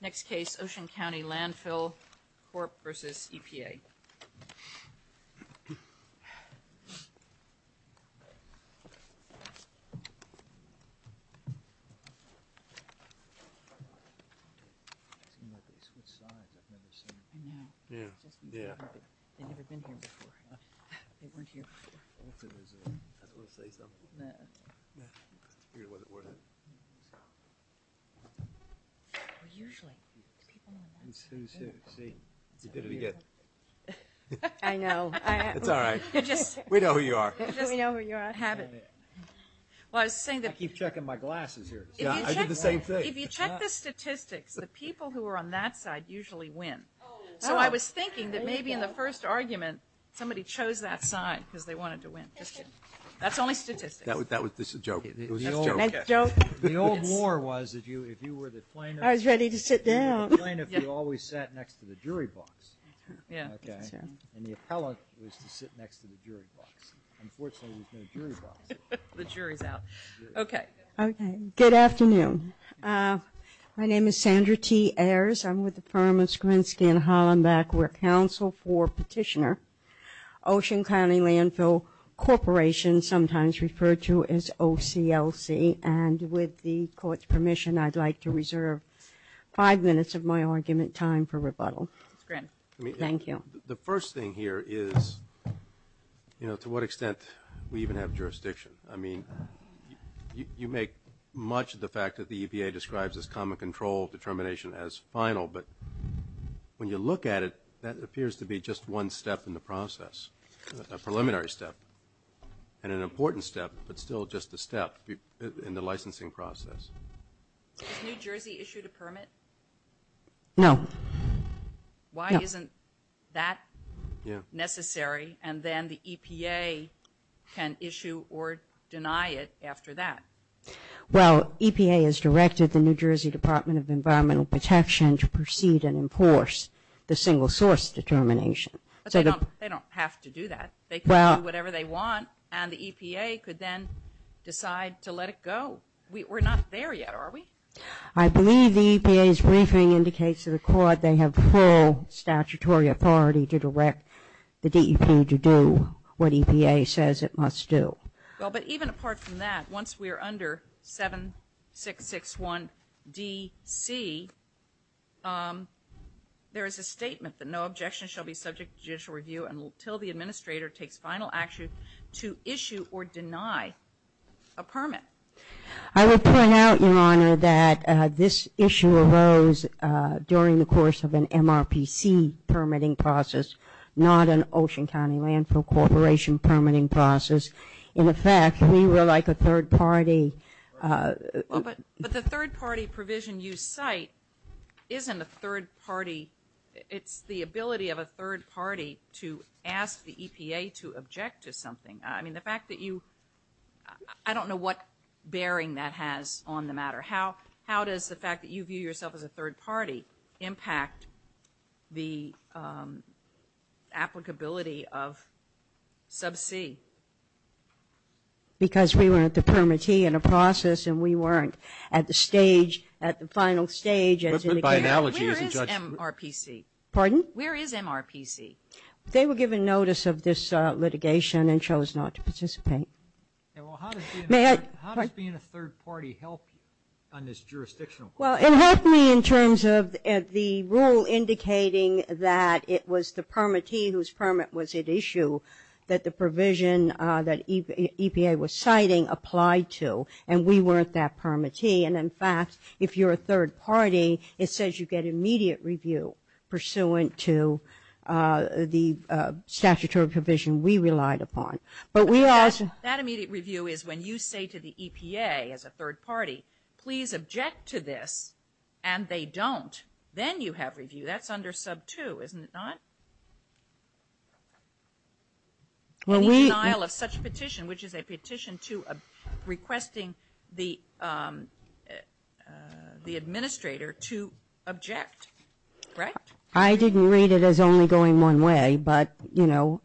Next case, Ocean County Landfill Corp v. EPA I keep checking my glasses here, I did the same thing. If you check the statistics, the people who are on that side usually win. So I was thinking that maybe in the first argument, somebody chose that sign because they wanted to win. That's only statistics. That's a joke. That's a joke. The old war was that if you were the plaintiff, you were the plaintiff, you always sat next to the jury box. And the appellant was to sit next to the jury box. Unfortunately, there's no jury box. The jury's out. Okay. Good afternoon. My name is Sandra T. Ayers. I'm with the firm of Skrinski and Hollenbeck. We're counsel for petitioner, Ocean County Landfill Corporation, sometimes referred to as OCLC. And with the court's permission, I'd like to reserve five minutes of my argument time for rebuttal. Thank you. The first thing here is, you know, to what extent we even have jurisdiction. I mean, you make much of the fact that the EPA describes this common control determination as final, but when you look at it, that appears to be just one step in the process, a preliminary step, and an important step, but still just a step in the licensing process. Has New Jersey issued a permit? No. Why isn't that necessary, and then the EPA can issue or deny it after that? Well, EPA has directed the New Jersey Department of Environmental Protection to proceed and enforce the single source determination. But they don't have to do that. They can do whatever they want, and the EPA could then decide to let it go. We're not there yet, are we? I believe the EPA's briefing indicates to the court they have full statutory authority to direct the DEP to do what EPA says it must do. Well, but even apart from that, once we are under 7661 D.C., there is a statement that no objection shall be subject to judicial review until the administrator takes final action to issue or deny a permit. I will point out, Your Honor, that this issue arose during the course of an MRPC permitting process, not an Ocean County Landfill Corporation permitting process. In effect, we were like a third party. But the third party provision you cite isn't a third party. It's the ability of a third party to ask the EPA to object to something. I mean, the fact that you — I don't know what bearing that has on the matter. How does the fact that you view yourself as a third party impact the applicability of sub C? Because we weren't the permittee in the process, and we weren't at the stage, at the final stage as indicated. But by analogy, isn't Judge — Where is MRPC? Pardon? Where is MRPC? They were given notice of this litigation and chose not to participate. May I — How does being a third party help on this jurisdictional question? Well, it helped me in terms of the rule indicating that it was the permittee whose permit was at issue that the provision that EPA was citing applied to, and we weren't that permittee. And in fact, if you're a third party, it says you get immediate review pursuant to the statutory provision we relied upon. But we also — That immediate review is when you say to the EPA as a third party, please object to this, and they don't. Then you have review. That's under sub 2, isn't it not? Well, we — The administrator to object, right? I didn't read it as only going one way, but, you know,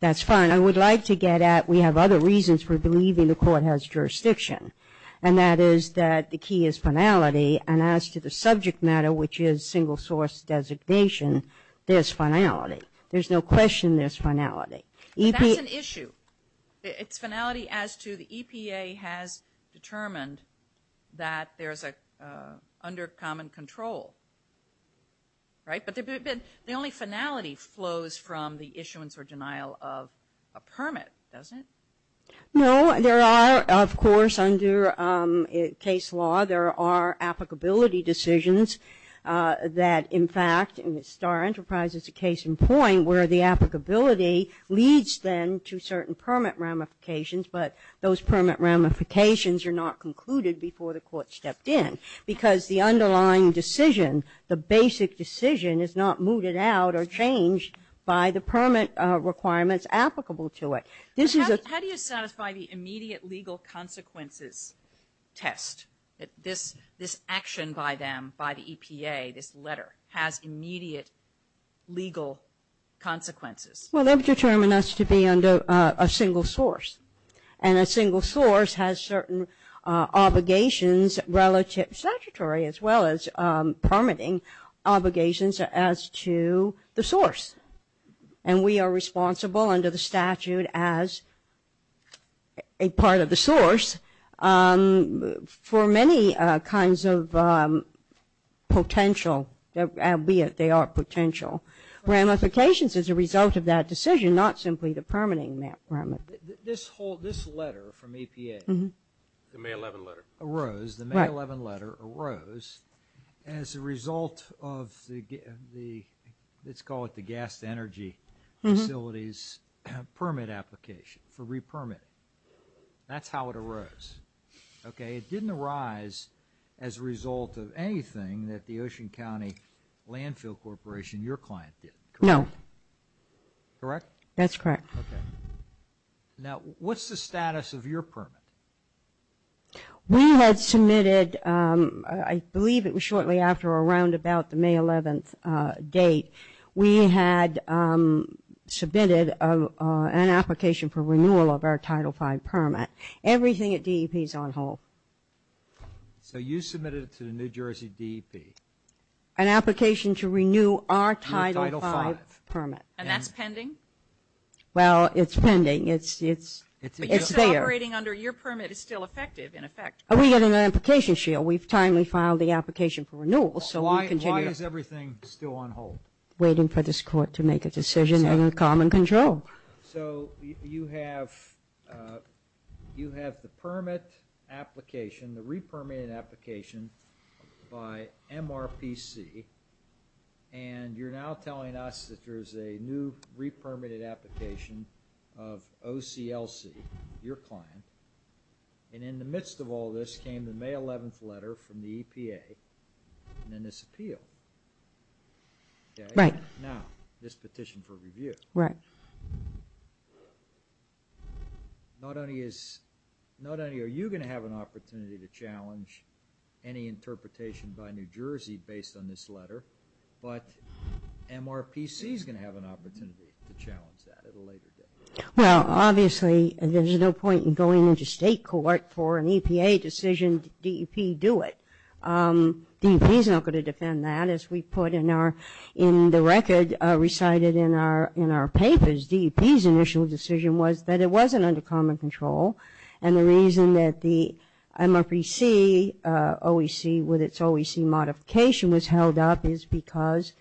that's fine. I would like to get at we have other reasons for believing the court has jurisdiction, and that is that the key is finality. And as to the subject matter, which is single source designation, there's finality. There's no question there's finality. But that's an issue. It's finality as to the EPA has determined that there's a — under common control. Right? But the only finality flows from the issuance or denial of a permit, doesn't it? No. There are, of course, under case law, there are applicability decisions that, in fact, in the Starr Enterprise, it's a case in point where the applicability leads, then, to certain permit ramifications, but those permit ramifications are not concluded before the court stepped in because the underlying decision, the basic decision, is not mooted out or changed by the permit requirements applicable to it. This is a — How do you satisfy the immediate legal consequences test that this action by them, by the EPA, this letter, has immediate legal consequences? Well, they've determined us to be under a single source, and a single source has certain obligations relative statutory as well as permitting obligations as to the source. And we are responsible under the statute as a part of the source for many kinds of potential, albeit they are potential, ramifications as a result of that decision, not simply the permitting ramifications. This whole — this letter from EPA — The May 11 letter. — arose, the May 11 letter arose as a result of the — let's call it the gas to energy facilities permit application for repermitting. That's how it arose, okay? It didn't arise as a result of anything that the Ocean County Landfill Corporation, your client, did, correct? No. Correct? That's correct. Okay. Now, what's the status of your permit? We had submitted — I believe it was shortly after or around about the May 11 date. We had submitted an application for renewal of our Title V permit. Everything at DEP is on hold. So you submitted it to the New Jersey DEP? An application to renew our Title V permit. And that's pending? Well, it's pending. It's there. But you said operating under your permit is still effective, in effect, correct? We have an application shield. We've timely filed the application for renewal, so we continue — It's still on hold? Waiting for this court to make a decision under common control. So you have the permit application, the repermitted application by MRPC, and you're now telling us that there's a new repermitted application of OCLC, your client, and in the midst of all this came the May 11 letter from the EPA and then this appeal. Right. Now, this petition for review. Right. Not only are you going to have an opportunity to challenge any interpretation by New Jersey based on this letter, but MRPC is going to have an opportunity to challenge that at a later date. Well, obviously, there's no point in going into state court for an EPA decision. DEP, do it. DEP is not going to defend that. As we put in the record recited in our papers, DEP's initial decision was that it wasn't under common control. And the reason that the MRPC OEC with its OEC modification was held up is because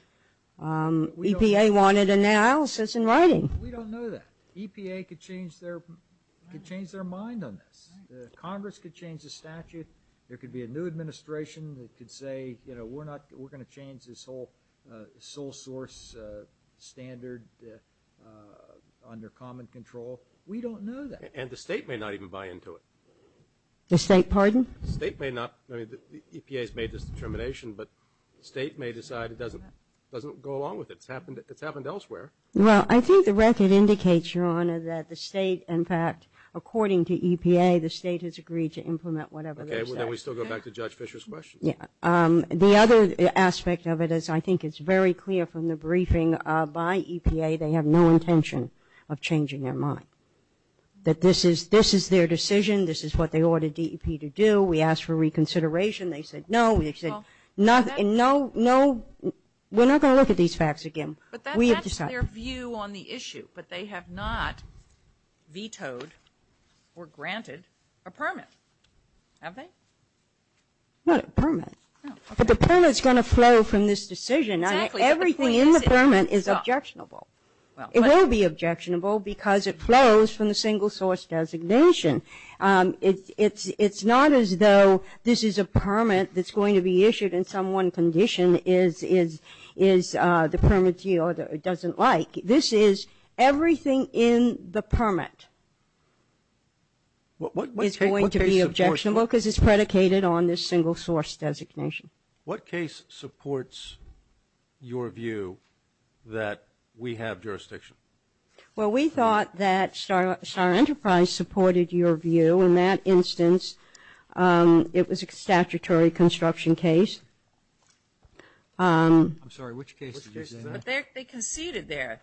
EPA wanted analysis in writing. We don't know that. EPA could change their mind on this. Congress could change the statute. There could be a new administration that could say, you know, we're going to change this whole sole source standard under common control. We don't know that. And the state may not even buy into it. The state, pardon? The state may not. I mean, EPA's made this determination, but the state may decide it doesn't go along with it. It's happened elsewhere. Well, I think the record indicates, Your Honor, that the state, in fact, according to EPA, the state has agreed to implement whatever they decide. Okay. Well, then we still go back to Judge Fischer's question. Yeah. The other aspect of it is I think it's very clear from the briefing by EPA they have no intention of changing their mind, that this is their decision. This is what they ordered DEP to do. We asked for reconsideration. They said no. They said no, no. We're not going to look at these facts again. But that's their view on the issue. But they have not vetoed or granted a permit, have they? Not a permit. But the permit's going to flow from this decision. Everything in the permit is objectionable. It will be objectionable because it flows from the single source designation. It's not as though this is a permit that's going to be issued and someone's condition is the permit doesn't like. This is everything in the permit is going to be objectionable because it's predicated on this single source designation. What case supports your view that we have jurisdiction? Well, we thought that Star Enterprise supported your view. In that instance, it was a statutory construction case. I'm sorry. Which case did you say? They conceded there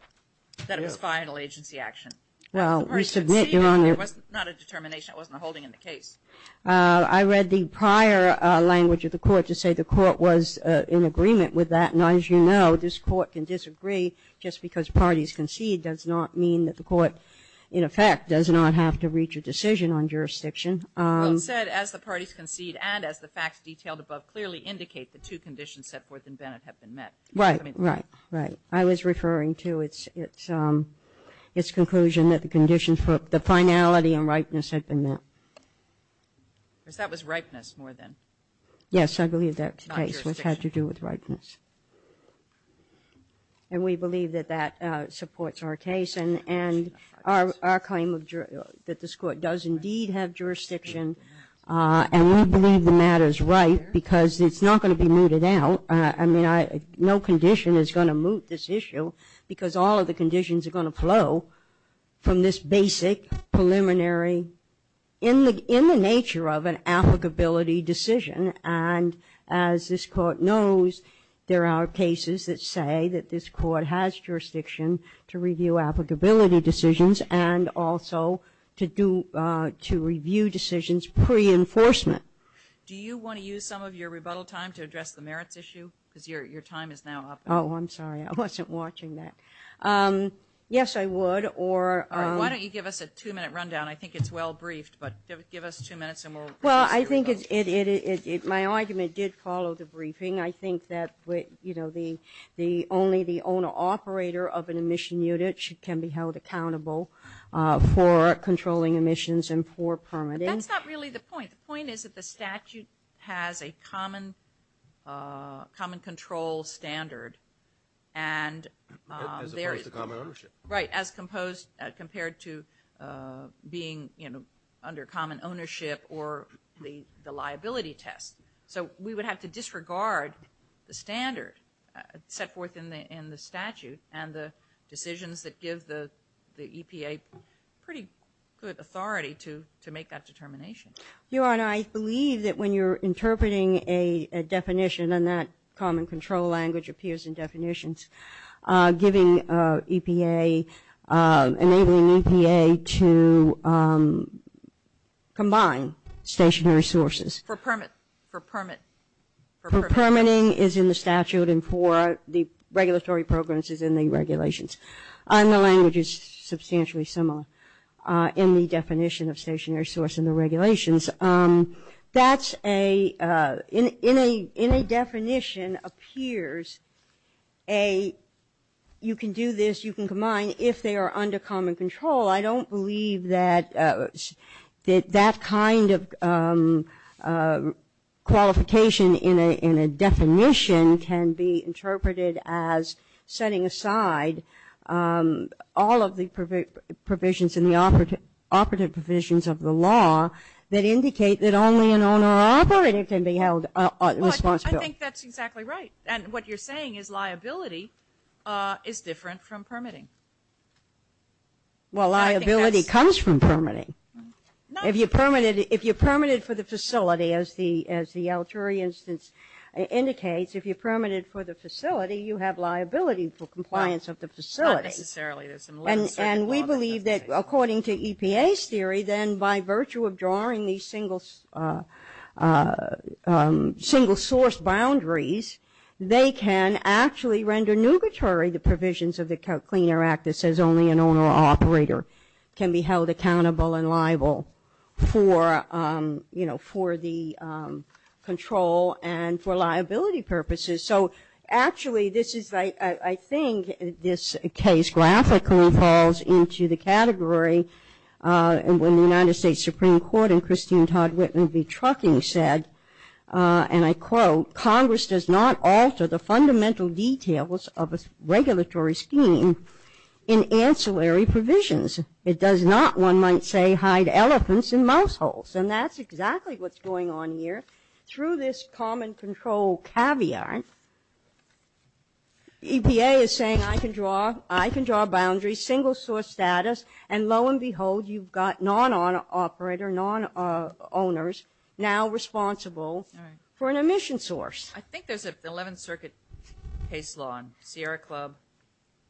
that it was final agency action. Well, you submit your own. It was not a determination. It wasn't a holding in the case. I read the prior language of the court to say the court was in agreement with that. Now, as you know, this court can disagree just because parties concede does not mean that the court, in effect, does not have to reach a decision on jurisdiction. Well, it said, as the parties concede and as the facts detailed above clearly indicate, the two conditions set forth in Bennett have been met. Right. Right. Right. I was referring to its conclusion that the condition for the finality and ripeness had been met. That was ripeness more than not jurisdiction. Yes, I believe that case had to do with ripeness. And we believe that that supports our case and our claim that this court does indeed have jurisdiction, and we believe the matter is right because it's not going to be mooted out. I mean, no condition is going to moot this issue because all of the conditions are going to flow from this basic preliminary, in the nature of an applicability decision. And as this court knows, there are cases that say that this court has jurisdiction to review applicability decisions and also to review decisions pre-enforcement. Do you want to use some of your rebuttal time to address the merits issue? Because your time is now up. Oh, I'm sorry. I wasn't watching that. Yes, I would. All right. Why don't you give us a two-minute rundown? I think it's well briefed, but give us two minutes and we'll proceed with it. Well, I think my argument did follow the briefing. I think that only the owner-operator of an emission unit can be held accountable for controlling emissions and for permitting. But that's not really the point. The point is that the statute has a common control standard. As opposed to common ownership. Right, as compared to being under common ownership or the liability test. So we would have to disregard the standard set forth in the statute and the decisions that give the EPA pretty good authority to make that determination. Your Honor, I believe that when you're interpreting a definition and that EPA enabling EPA to combine stationary sources. For permit. For permit. For permitting. For permitting is in the statute and for the regulatory programs is in the regulations. And the language is substantially similar in the definition of stationary source in the regulations. That's a, in a definition appears a, you can do this, you can combine, if they are under common control. I don't believe that that kind of qualification in a definition can be interpreted as setting aside all of the provisions in the operative provisions of the law that indicate that only an owner or operative can be held responsible. Well, I think that's exactly right. And what you're saying is liability is different from permitting. Well, liability comes from permitting. If you're permitted, if you're permitted for the facility, as the, as the Alturi instance indicates, if you're permitted for the facility, you have liability for compliance of the facility. Not necessarily. And we believe that according to EPA's theory, then by virtue of drawing these single source boundaries, they can actually render nugatory the provisions of the Clean Air Act that says only an owner or operator can be held accountable and liable for, you know, for the control and for liability purposes. So actually this is, I think, this case graphically falls into the category when the United States Supreme Court and Christine Todd Whitman v. Trucking said, and I quote, Congress does not alter the fundamental details of a regulatory scheme in ancillary provisions. It does not, one might say, hide elephants in mouse holes. And that's exactly what's going on here. Through this common control caveat, EPA is saying I can draw, I can draw boundaries, single source status, and lo and behold, you've got non-owner operator, non-owners, now responsible for an emission source. I think there's an 11th Circuit case law in Sierra Club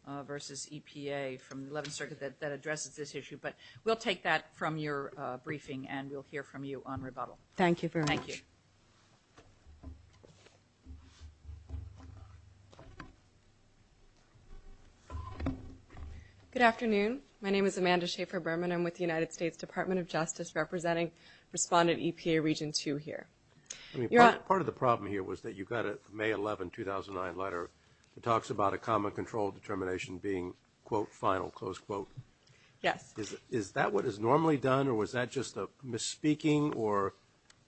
v. EPA from the 11th Circuit that addresses this issue, but we'll take that from your briefing and we'll hear from you on rebuttal. Thank you very much. Thank you. Good afternoon. My name is Amanda Schaffer-Berman. I'm with the United States Department of Justice representing respondent EPA Region 2 here. Part of the problem here was that you've got a May 11, 2009, letter that talks about a common control determination being, quote, final, close quote. Yes. Is that what is normally done, or was that just a misspeaking, or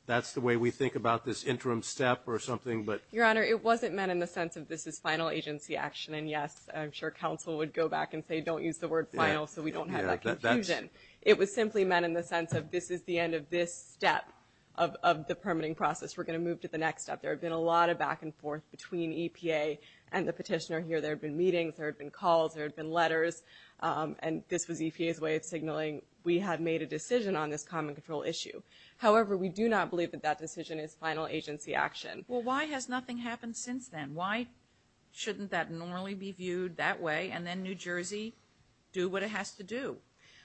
that's the way we think about this interim step or something? Your Honor, it wasn't meant in the sense of this is final agency action, and yes, I'm sure counsel would go back and say, don't use the word final so we don't have that confusion. It was simply meant in the sense of this is the end of this step of the permitting process. We're going to move to the next step. There have been a lot of back and forth between EPA and the petitioner here. There have been meetings. There have been calls. There have been letters. And this was EPA's way of signaling we have made a decision on this common control issue. However, we do not believe that that decision is final agency action. Well, why has nothing happened since then? Why shouldn't that normally be viewed that way, and then New Jersey do what it has to do?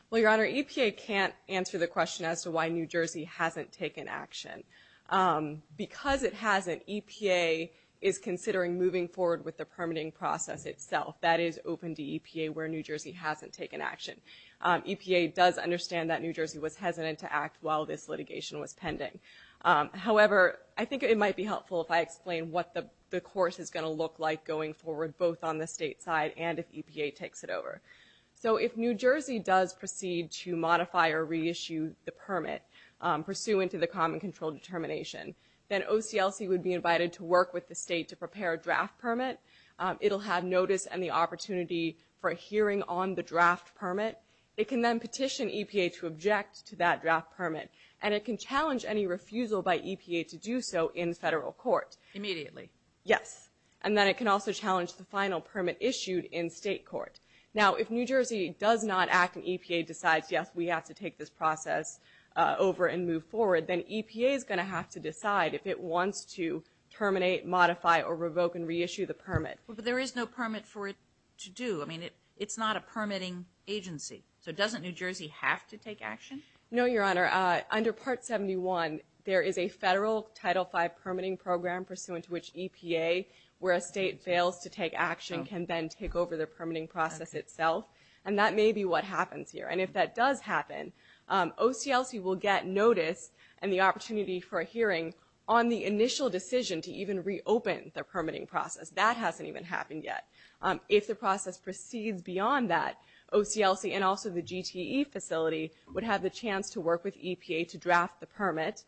Well, Your Honor, EPA can't answer the question as to why New Jersey hasn't taken action. Because it hasn't, EPA is considering moving forward with the permitting process itself. That is open to EPA where New Jersey hasn't taken action. EPA does understand that New Jersey was hesitant to act while this litigation was pending. However, I think it might be helpful if I explain what the course is going to look like going forward, both on the state side and if EPA takes it over. So if New Jersey does proceed to modify or reissue the permit, pursuant to the common control determination, then OCLC would be invited to work with the state to prepare a draft permit. It'll have notice and the opportunity for a hearing on the draft permit. It can then petition EPA to object to that draft permit, and it can challenge any refusal by EPA to do so in federal court. Immediately. Yes. And then it can also challenge the final permit issued in state court. Now, if New Jersey does not act and EPA decides, yes, we have to take this process over and move forward, then EPA is going to have to decide if it wants to terminate, modify, or revoke and reissue the permit. But there is no permit for it to do. I mean, it's not a permitting agency. So doesn't New Jersey have to take action? No, Your Honor. Under Part 71, there is a federal Title V permitting program pursuant to which EPA, where a state fails to take action, can then take over the permitting process itself. And that may be what happens here. And if that does happen, OCLC will get notice and the opportunity for a hearing on the initial decision to even reopen the permitting process. That hasn't even happened yet. If the process proceeds beyond that, OCLC and also the GTE facility would have the chance to work with EPA to draft the permit.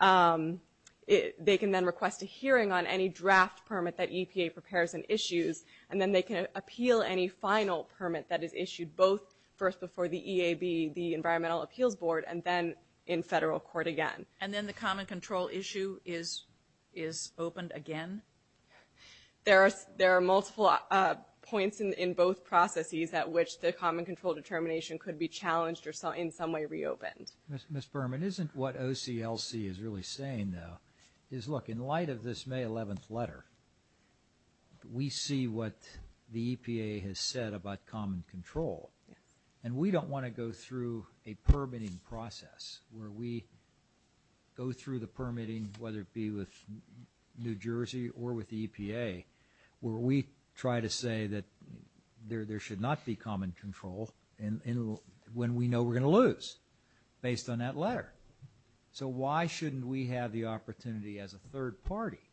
They can then request a hearing on any draft permit that EPA prepares and issues, and then they can appeal any final permit that is issued both first before the EAB, the Environmental Appeals Board, and then in federal court again. And then the common control issue is opened again? There are multiple points in both processes at which the common control determination could be challenged or in some way reopened. Ms. Berman, isn't what OCLC is really saying, though, is look, in light of this May 11th letter, we see what the EPA has said about common control. And we don't want to go through a permitting process where we go through the permitting, whether it be with New Jersey or with the EPA, where we try to say that there should not be common control when we know we're going to lose based on that letter. So why shouldn't we have the opportunity as a third party,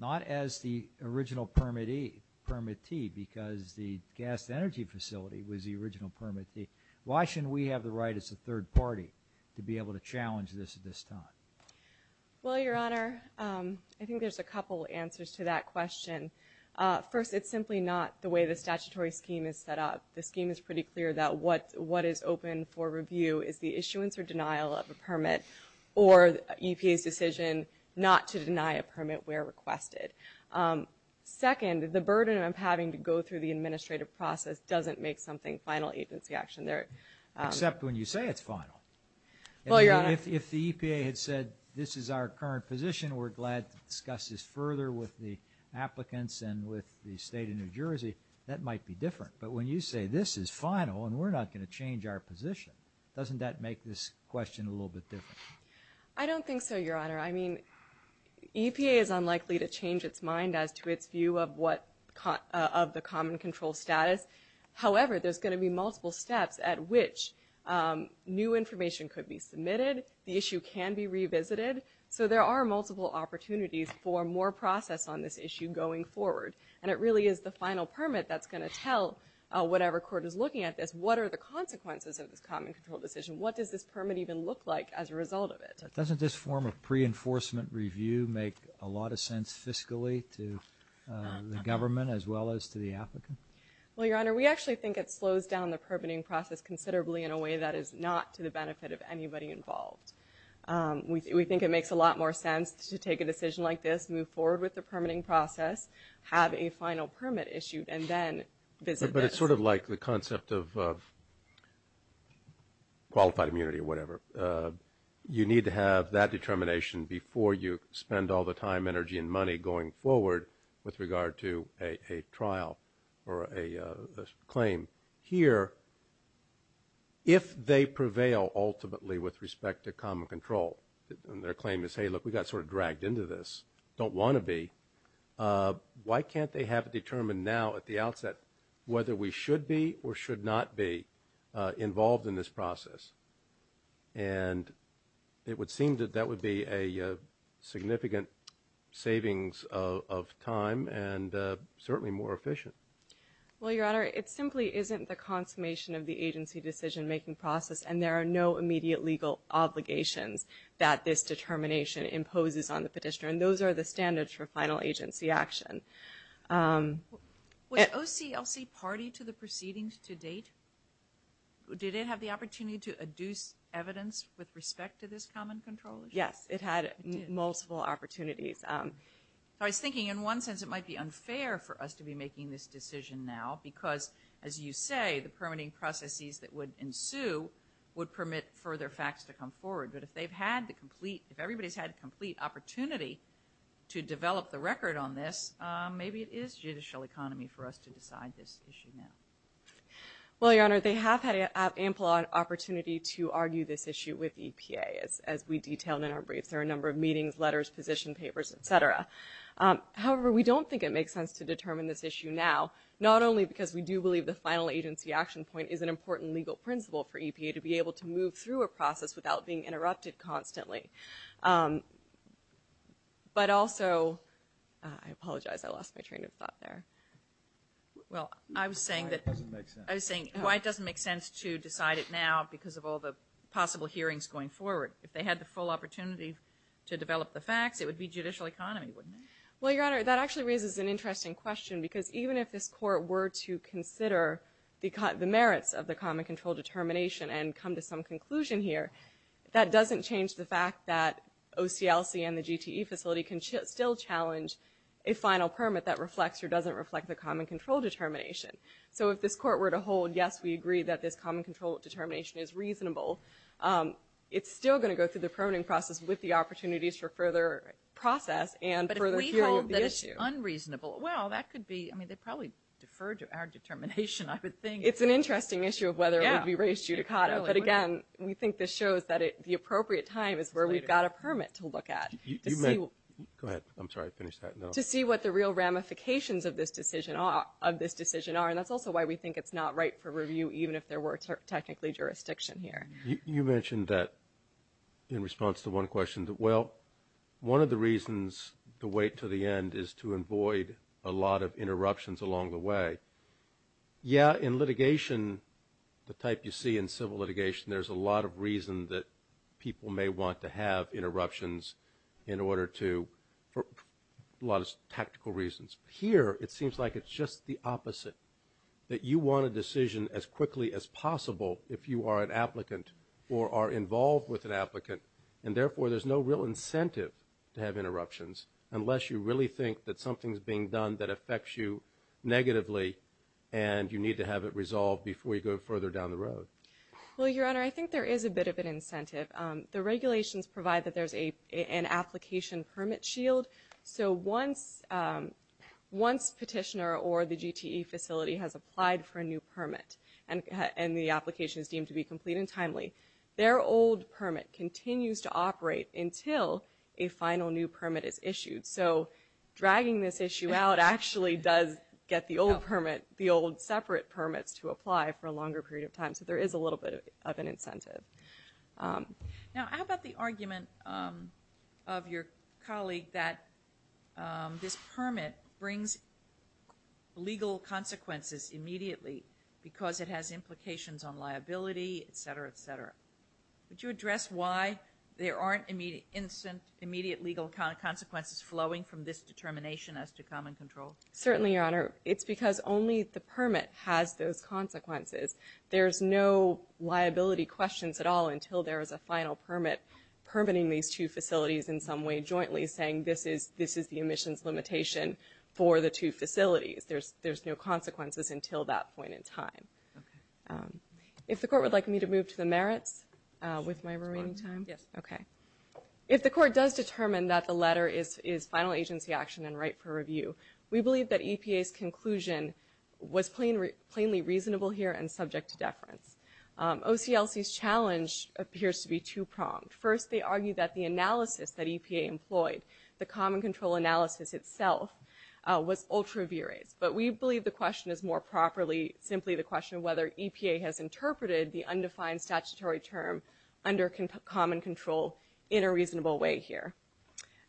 not as the original permittee because the gas to energy facility was the original permittee, why shouldn't we have the right as a third party to be able to challenge this at this time? Well, Your Honor, I think there's a couple answers to that question. First, it's simply not the way the statutory scheme is set up. The scheme is pretty clear that what is open for review is the issuance or denial of a permit or EPA's decision not to deny a permit where requested. Second, the burden of having to go through the administrative process doesn't make something final agency action there. Except when you say it's final. Well, Your Honor. If the EPA had said this is our current position, we're glad to discuss this further with the applicants and with the State of New Jersey, that might be different. But when you say this is final and we're not going to change our position, doesn't that make this question a little bit different? I don't think so, Your Honor. I mean, EPA is unlikely to change its mind as to its view of the common control status. However, there's going to be multiple steps at which new information could be submitted. The issue can be revisited. So there are multiple opportunities for more process on this issue going forward. And it really is the final permit that's going to tell whatever court is looking at this, what are the consequences of this common control decision? What does this permit even look like as a result of it? Doesn't this form of pre-enforcement review make a lot of sense fiscally to the government as well as to the applicant? Well, Your Honor, we actually think it slows down the permitting process considerably in a way that is not to the benefit of anybody involved. We think it makes a lot more sense to take a decision like this, move forward with the permitting process, have a final permit issued, and then visit this. But it's sort of like the concept of qualified immunity or whatever. You need to have that determination before you spend all the time, energy, and money going forward with regard to a trial or a claim. Here, if they prevail ultimately with respect to common control, and their claim is, hey, look, we got sort of dragged into this, don't want to be, why can't they have it determined now at the outset whether we should be or should not be involved in this process? And it would seem that that would be a significant savings of time and certainly more efficient. Well, Your Honor, it simply isn't the consummation of the agency decision-making process, and there are no immediate legal obligations that this determination imposes on the petitioner. And those are the standards for final agency action. Was OCLC party to the proceedings to date? Did it have the opportunity to adduce evidence with respect to this common control? Yes, it had multiple opportunities. I was thinking in one sense it might be unfair for us to be making this decision now because, as you say, the permitting processes that would ensue would permit further facts to come forward. But if everybody's had a complete opportunity to develop the record on this, maybe it is judicial economy for us to decide this issue now. Well, Your Honor, they have had ample opportunity to argue this issue with EPA, as we detailed in our briefs. There are a number of meetings, letters, position papers, et cetera. However, we don't think it makes sense to determine this issue now, not only because we do believe the final agency action point is an important legal principle for EPA to be able to move through a process without being interrupted constantly, but also, I apologize, I lost my train of thought there. Well, I was saying that why it doesn't make sense to decide it now because of all the possible hearings going forward. If they had the full opportunity to develop the facts, it would be judicial economy, wouldn't it? Well, Your Honor, that actually raises an interesting question because even if this Court were to consider the merits of the common control determination and come to some conclusion here, that doesn't change the fact that OCLC and the GTE facility can still challenge a final permit that reflects or doesn't reflect the common control determination. So if this Court were to hold, yes, we agree that this common control determination is reasonable, it's still going to go through the permitting process with the opportunities for further process and further hearing of the issue. But if we hold that it's unreasonable, well, that could be, I mean, they'd probably defer to our determination, I would think. It's an interesting issue of whether it would be raised judicata. But again, we think this shows that the appropriate time is where we've got a permit to look at. Go ahead. I'm sorry, finish that. To see what the real ramifications of this decision are, and that's also why we think it's not right for review even if there were technically jurisdiction here. You mentioned that in response to one question, that, well, one of the reasons to wait to the end is to avoid a lot of interruptions along the way. Yeah, in litigation, the type you see in civil litigation, there's a lot of reason that people may want to have interruptions in order to, for a lot of tactical reasons. Here, it seems like it's just the opposite, that you want a decision as quickly as possible if you are an applicant or are involved with an applicant, and therefore there's no real incentive to have interruptions unless you really think that something's being done that affects you negatively and you need to have it resolved before you go further down the road. Well, Your Honor, I think there is a bit of an incentive. The regulations provide that there's an application permit shield. So once petitioner or the GTE facility has applied for a new permit and the application is deemed to be complete and timely, their old permit continues to operate until a final new permit is issued. So dragging this issue out actually does get the old permit, the old separate permits to apply for a longer period of time. So there is a little bit of an incentive. Now, how about the argument of your colleague that this permit brings legal consequences immediately because it has implications on liability, et cetera, et cetera. Would you address why there aren't immediate legal consequences flowing from this determination as to common control? Certainly, Your Honor. It's because only the permit has those consequences. There's no liability questions at all until there is a final permit permitting these two facilities in some way jointly saying this is the emissions limitation for the two facilities. There's no consequences until that point in time. If the Court would like me to move to the merits with my remaining time. If the Court does determine that the letter is final agency action and right for review, we believe that EPA's conclusion was plainly reasonable here and subject to deference. OCLC's challenge appears to be two-pronged. First, they argue that the analysis that EPA employed, the common control analysis itself, was ultra-virates. But we believe the question is more properly simply the question of whether EPA has interpreted the undefined statutory term under common control in a reasonable way here.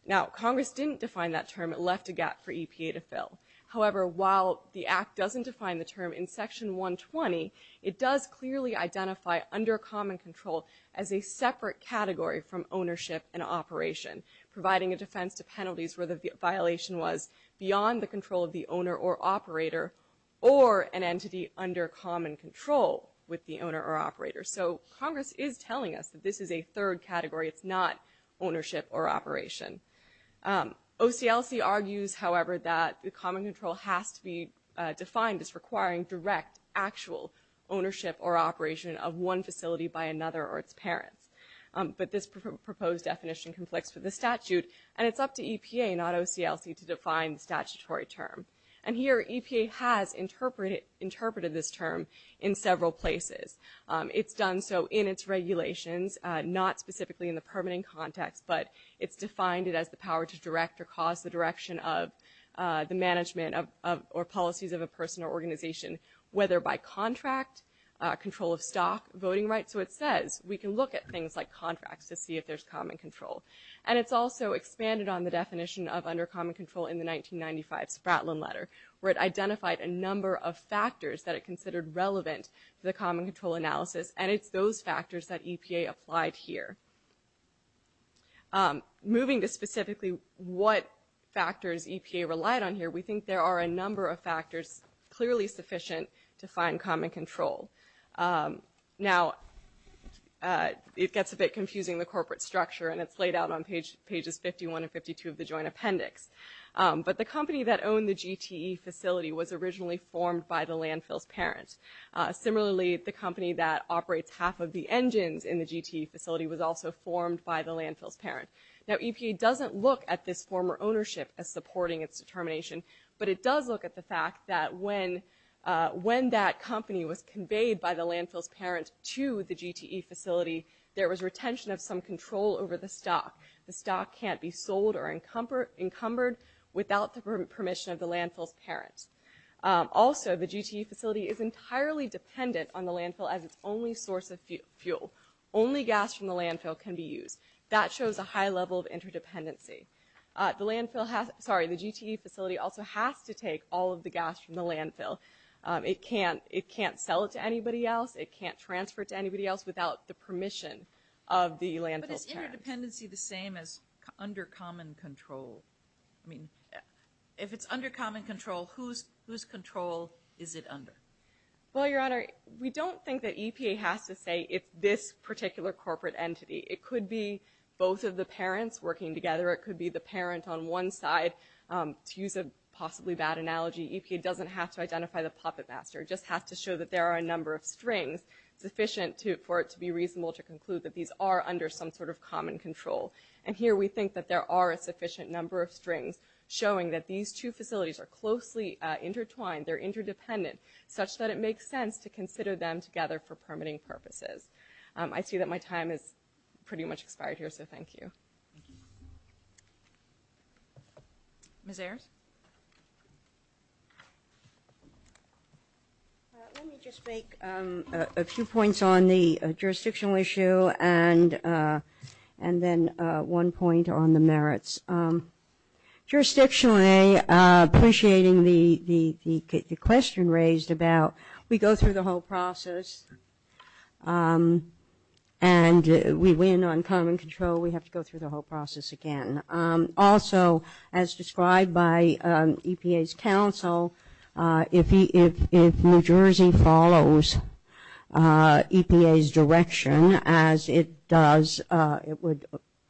Now, Congress didn't define that term. It left a gap for EPA to fill. However, while the Act doesn't define the term in Section 120, it does clearly identify under common control as a separate category from ownership and operation, providing a defense to penalties where the violation was beyond the control of the owner or operator or an entity under common control with the owner or operator. So Congress is telling us that this is a third category. It's not ownership or operation. OCLC argues, however, that the common control has to be defined as requiring direct actual ownership or operation of one facility by another or its parents. But this proposed definition conflicts with the statute, and it's up to EPA, not OCLC, to define the statutory term. And here EPA has interpreted this term in several places. It's done so in its regulations, not specifically in the permitting context, but it's defined it as the power to direct or cause the direction of the management or policies of a person or organization, whether by contract, control of stock, voting rights. So it says we can look at things like contracts to see if there's common control. And it's also expanded on the definition of under common control in the 1995 Spratlin letter, where it identified a number of factors that it considered relevant to the common control analysis, and it's those factors that EPA applied here. Moving to specifically what factors EPA relied on here, we think there are a number of factors clearly sufficient to find common control. Now, it gets a bit confusing, the corporate structure, and it's laid out on pages 51 and 52 of the joint appendix. But the company that owned the GTE facility was originally formed by the landfill's parents. Similarly, the company that operates half of the engines in the GTE facility was also formed by the landfill's parent. Now, EPA doesn't look at this former ownership as supporting its determination, but it does look at the fact that when that company was conveyed by the landfill's parent to the GTE facility, there was retention of some control over the stock. The stock can't be sold or encumbered without the permission of the landfill's parents. Also, the GTE facility is entirely dependent on the landfill as its only source of fuel. Only gas from the landfill can be used. That shows a high level of interdependency. The GTE facility also has to take all of the gas from the landfill. It can't sell it to anybody else. It can't transfer it to anybody else without the permission of the landfill's parent. But is interdependency the same as under common control? I mean, if it's under common control, whose control is it under? Well, Your Honor, we don't think that EPA has to say it's this particular corporate entity. It could be both of the parents working together. It could be the parent on one side. To use a possibly bad analogy, EPA doesn't have to identify the puppet master. It just has to show that there are a number of strings sufficient for it to be reasonable to conclude that these are under some sort of common control. And here we think that there are a sufficient number of strings showing that these two facilities are closely intertwined, they're interdependent, such that it makes sense to consider them together for permitting purposes. I see that my time has pretty much expired here, so thank you. Ms. Ayers? Ms. Ayers? Let me just make a few points on the jurisdictional issue and then one point on the merits. Jurisdictionally, appreciating the question raised about we go through the whole process and we win on common control, we have to go through the whole process again. Also, as described by EPA's counsel, if New Jersey follows EPA's direction, as it does, it would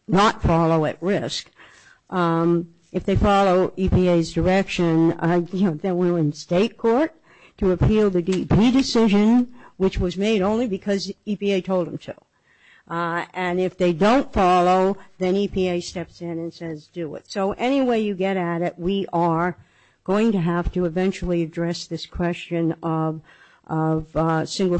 not follow at risk. If they follow EPA's direction, then we're in state court to appeal the DEP decision, which was made only because EPA told them to. And if they don't follow, then EPA steps in and says, do it. So any way you get at it, we are going to have to eventually address this question of single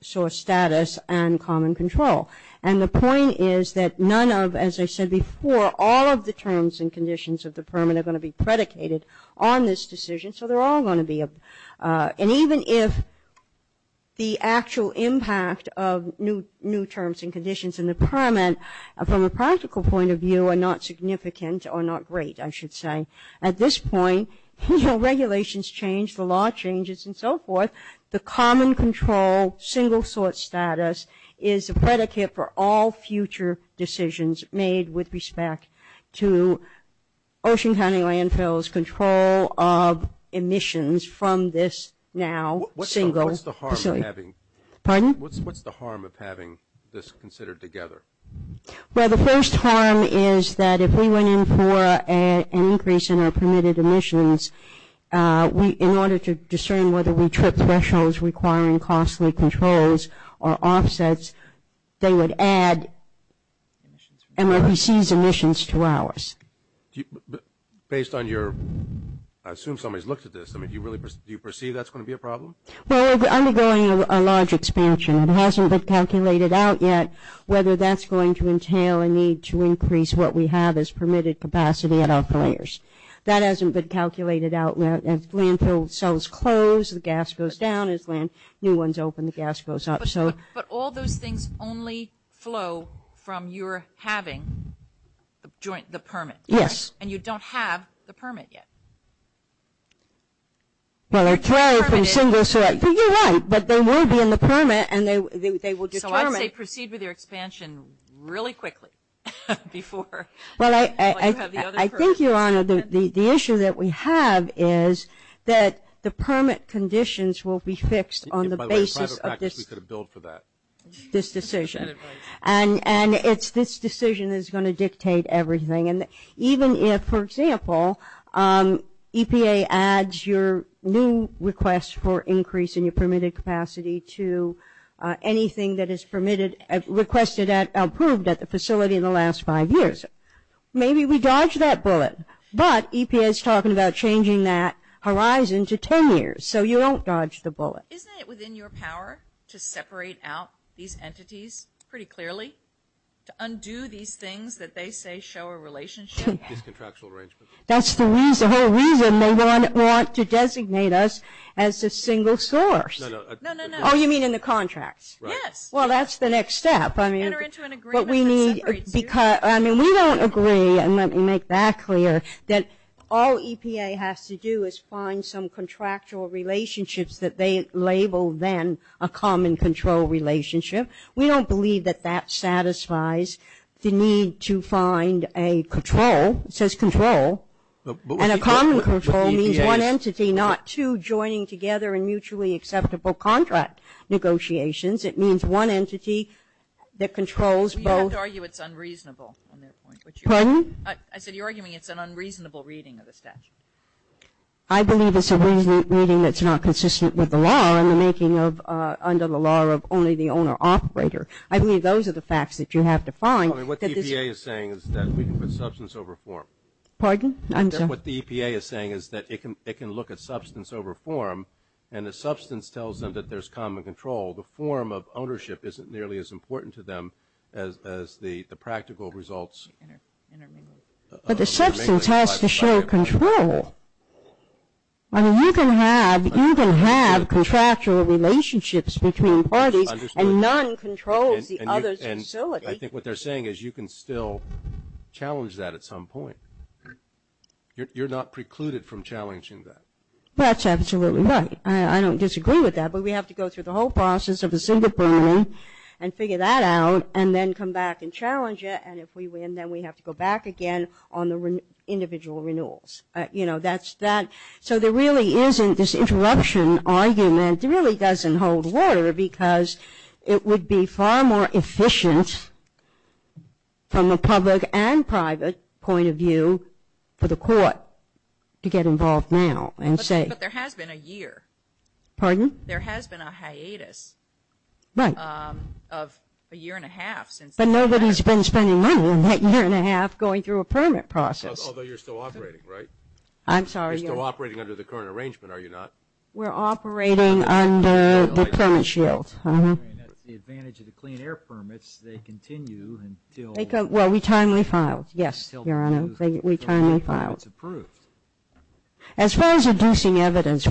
source status and common control. And the point is that none of, as I said before, all of the terms and conditions of the permit are going to be predicated on this decision, so they're all going to be. The new terms and conditions in the permit, from a practical point of view, are not significant or not great, I should say. At this point, you know, regulations change, the law changes and so forth. The common control single source status is a predicate for all future decisions made with respect to Ocean County Landfill's control of emissions from this now single facility. What's the harm of having this considered together? Well, the first harm is that if we went in for an increase in our permitted emissions, in order to discern whether we tripped thresholds requiring costly controls or offsets, they would add MRPC's emissions to ours. Based on your, I assume somebody's looked at this, do you perceive that's going to be a problem? Well, we're undergoing a large expansion. It hasn't been calculated out yet whether that's going to entail a need to increase what we have as permitted capacity at our fillers. That hasn't been calculated out. As landfill cells close, the gas goes down. As new ones open, the gas goes up. But all those things only flow from your having the permit, right? Yes. And you don't have the permit yet. Well, you're right, but they will be in the permit and they will determine. So I'd say proceed with your expansion really quickly before you have the other permits. I think, Your Honor, the issue that we have is that the permit conditions will be fixed on the basis of this decision. And it's this decision that's going to dictate everything. And even if, for example, EPA adds your new request for increase in your permitted capacity to anything that is permitted, requested at, approved at the facility in the last five years, maybe we dodge that bullet. But EPA is talking about changing that horizon to 10 years, so you don't dodge the bullet. Isn't it within your power to separate out these entities pretty clearly? To undo these things that they say show a relationship? That's the whole reason they want to designate us as a single source. No, no, no. Oh, you mean in the contracts? Yes. Well, that's the next step. I mean, we don't agree, and let me make that clear, that all EPA has to do is find some contractual relationships that they label then a common control relationship. We don't believe that that satisfies the need to find a control. It says control, and a common control means one entity, not two joining together in mutually acceptable contract negotiations. It means one entity that controls both. You have to argue it's unreasonable. Pardon? I said you're arguing it's an unreasonable reading of the statute. I believe it's a reading that's not consistent with the law and the making of, under the law of only the owner-operator. I believe those are the facts that you have to find. What the EPA is saying is that we can put substance over form. Pardon? As the practical results. But the substance has to show control. I mean, you can have contractual relationships between parties, and none controls the other's facility. I think what they're saying is you can still challenge that at some point. You're not precluded from challenging that. That's absolutely right. I don't disagree with that, but we have to go through the whole process of the single permitting and figure that out, and then come back and challenge it, and if we win, then we have to go back again on the individual renewals. You know, that's that. So there really isn't this interruption argument. It really doesn't hold water, because it would be far more efficient from a public and private point of view for the court to get involved now. But there has been a year. Pardon? There has been a hiatus of a year and a half. But nobody's been spending money in that year and a half going through a permit process. Although you're still operating, right? As far as reducing evidence,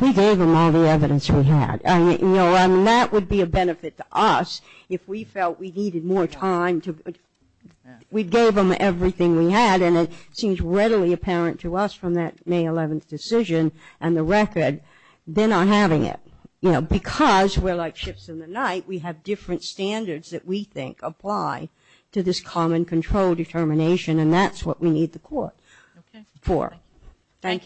we gave them all the evidence we had. That would be a benefit to us if we felt we needed more time. We gave them everything we had, and it seems readily apparent to us from that May 11th decision and the record, they're not having it. Because we're like ships in the night, we have different standards that we think apply to this common control determination, and that's what we need the court for. Thank you.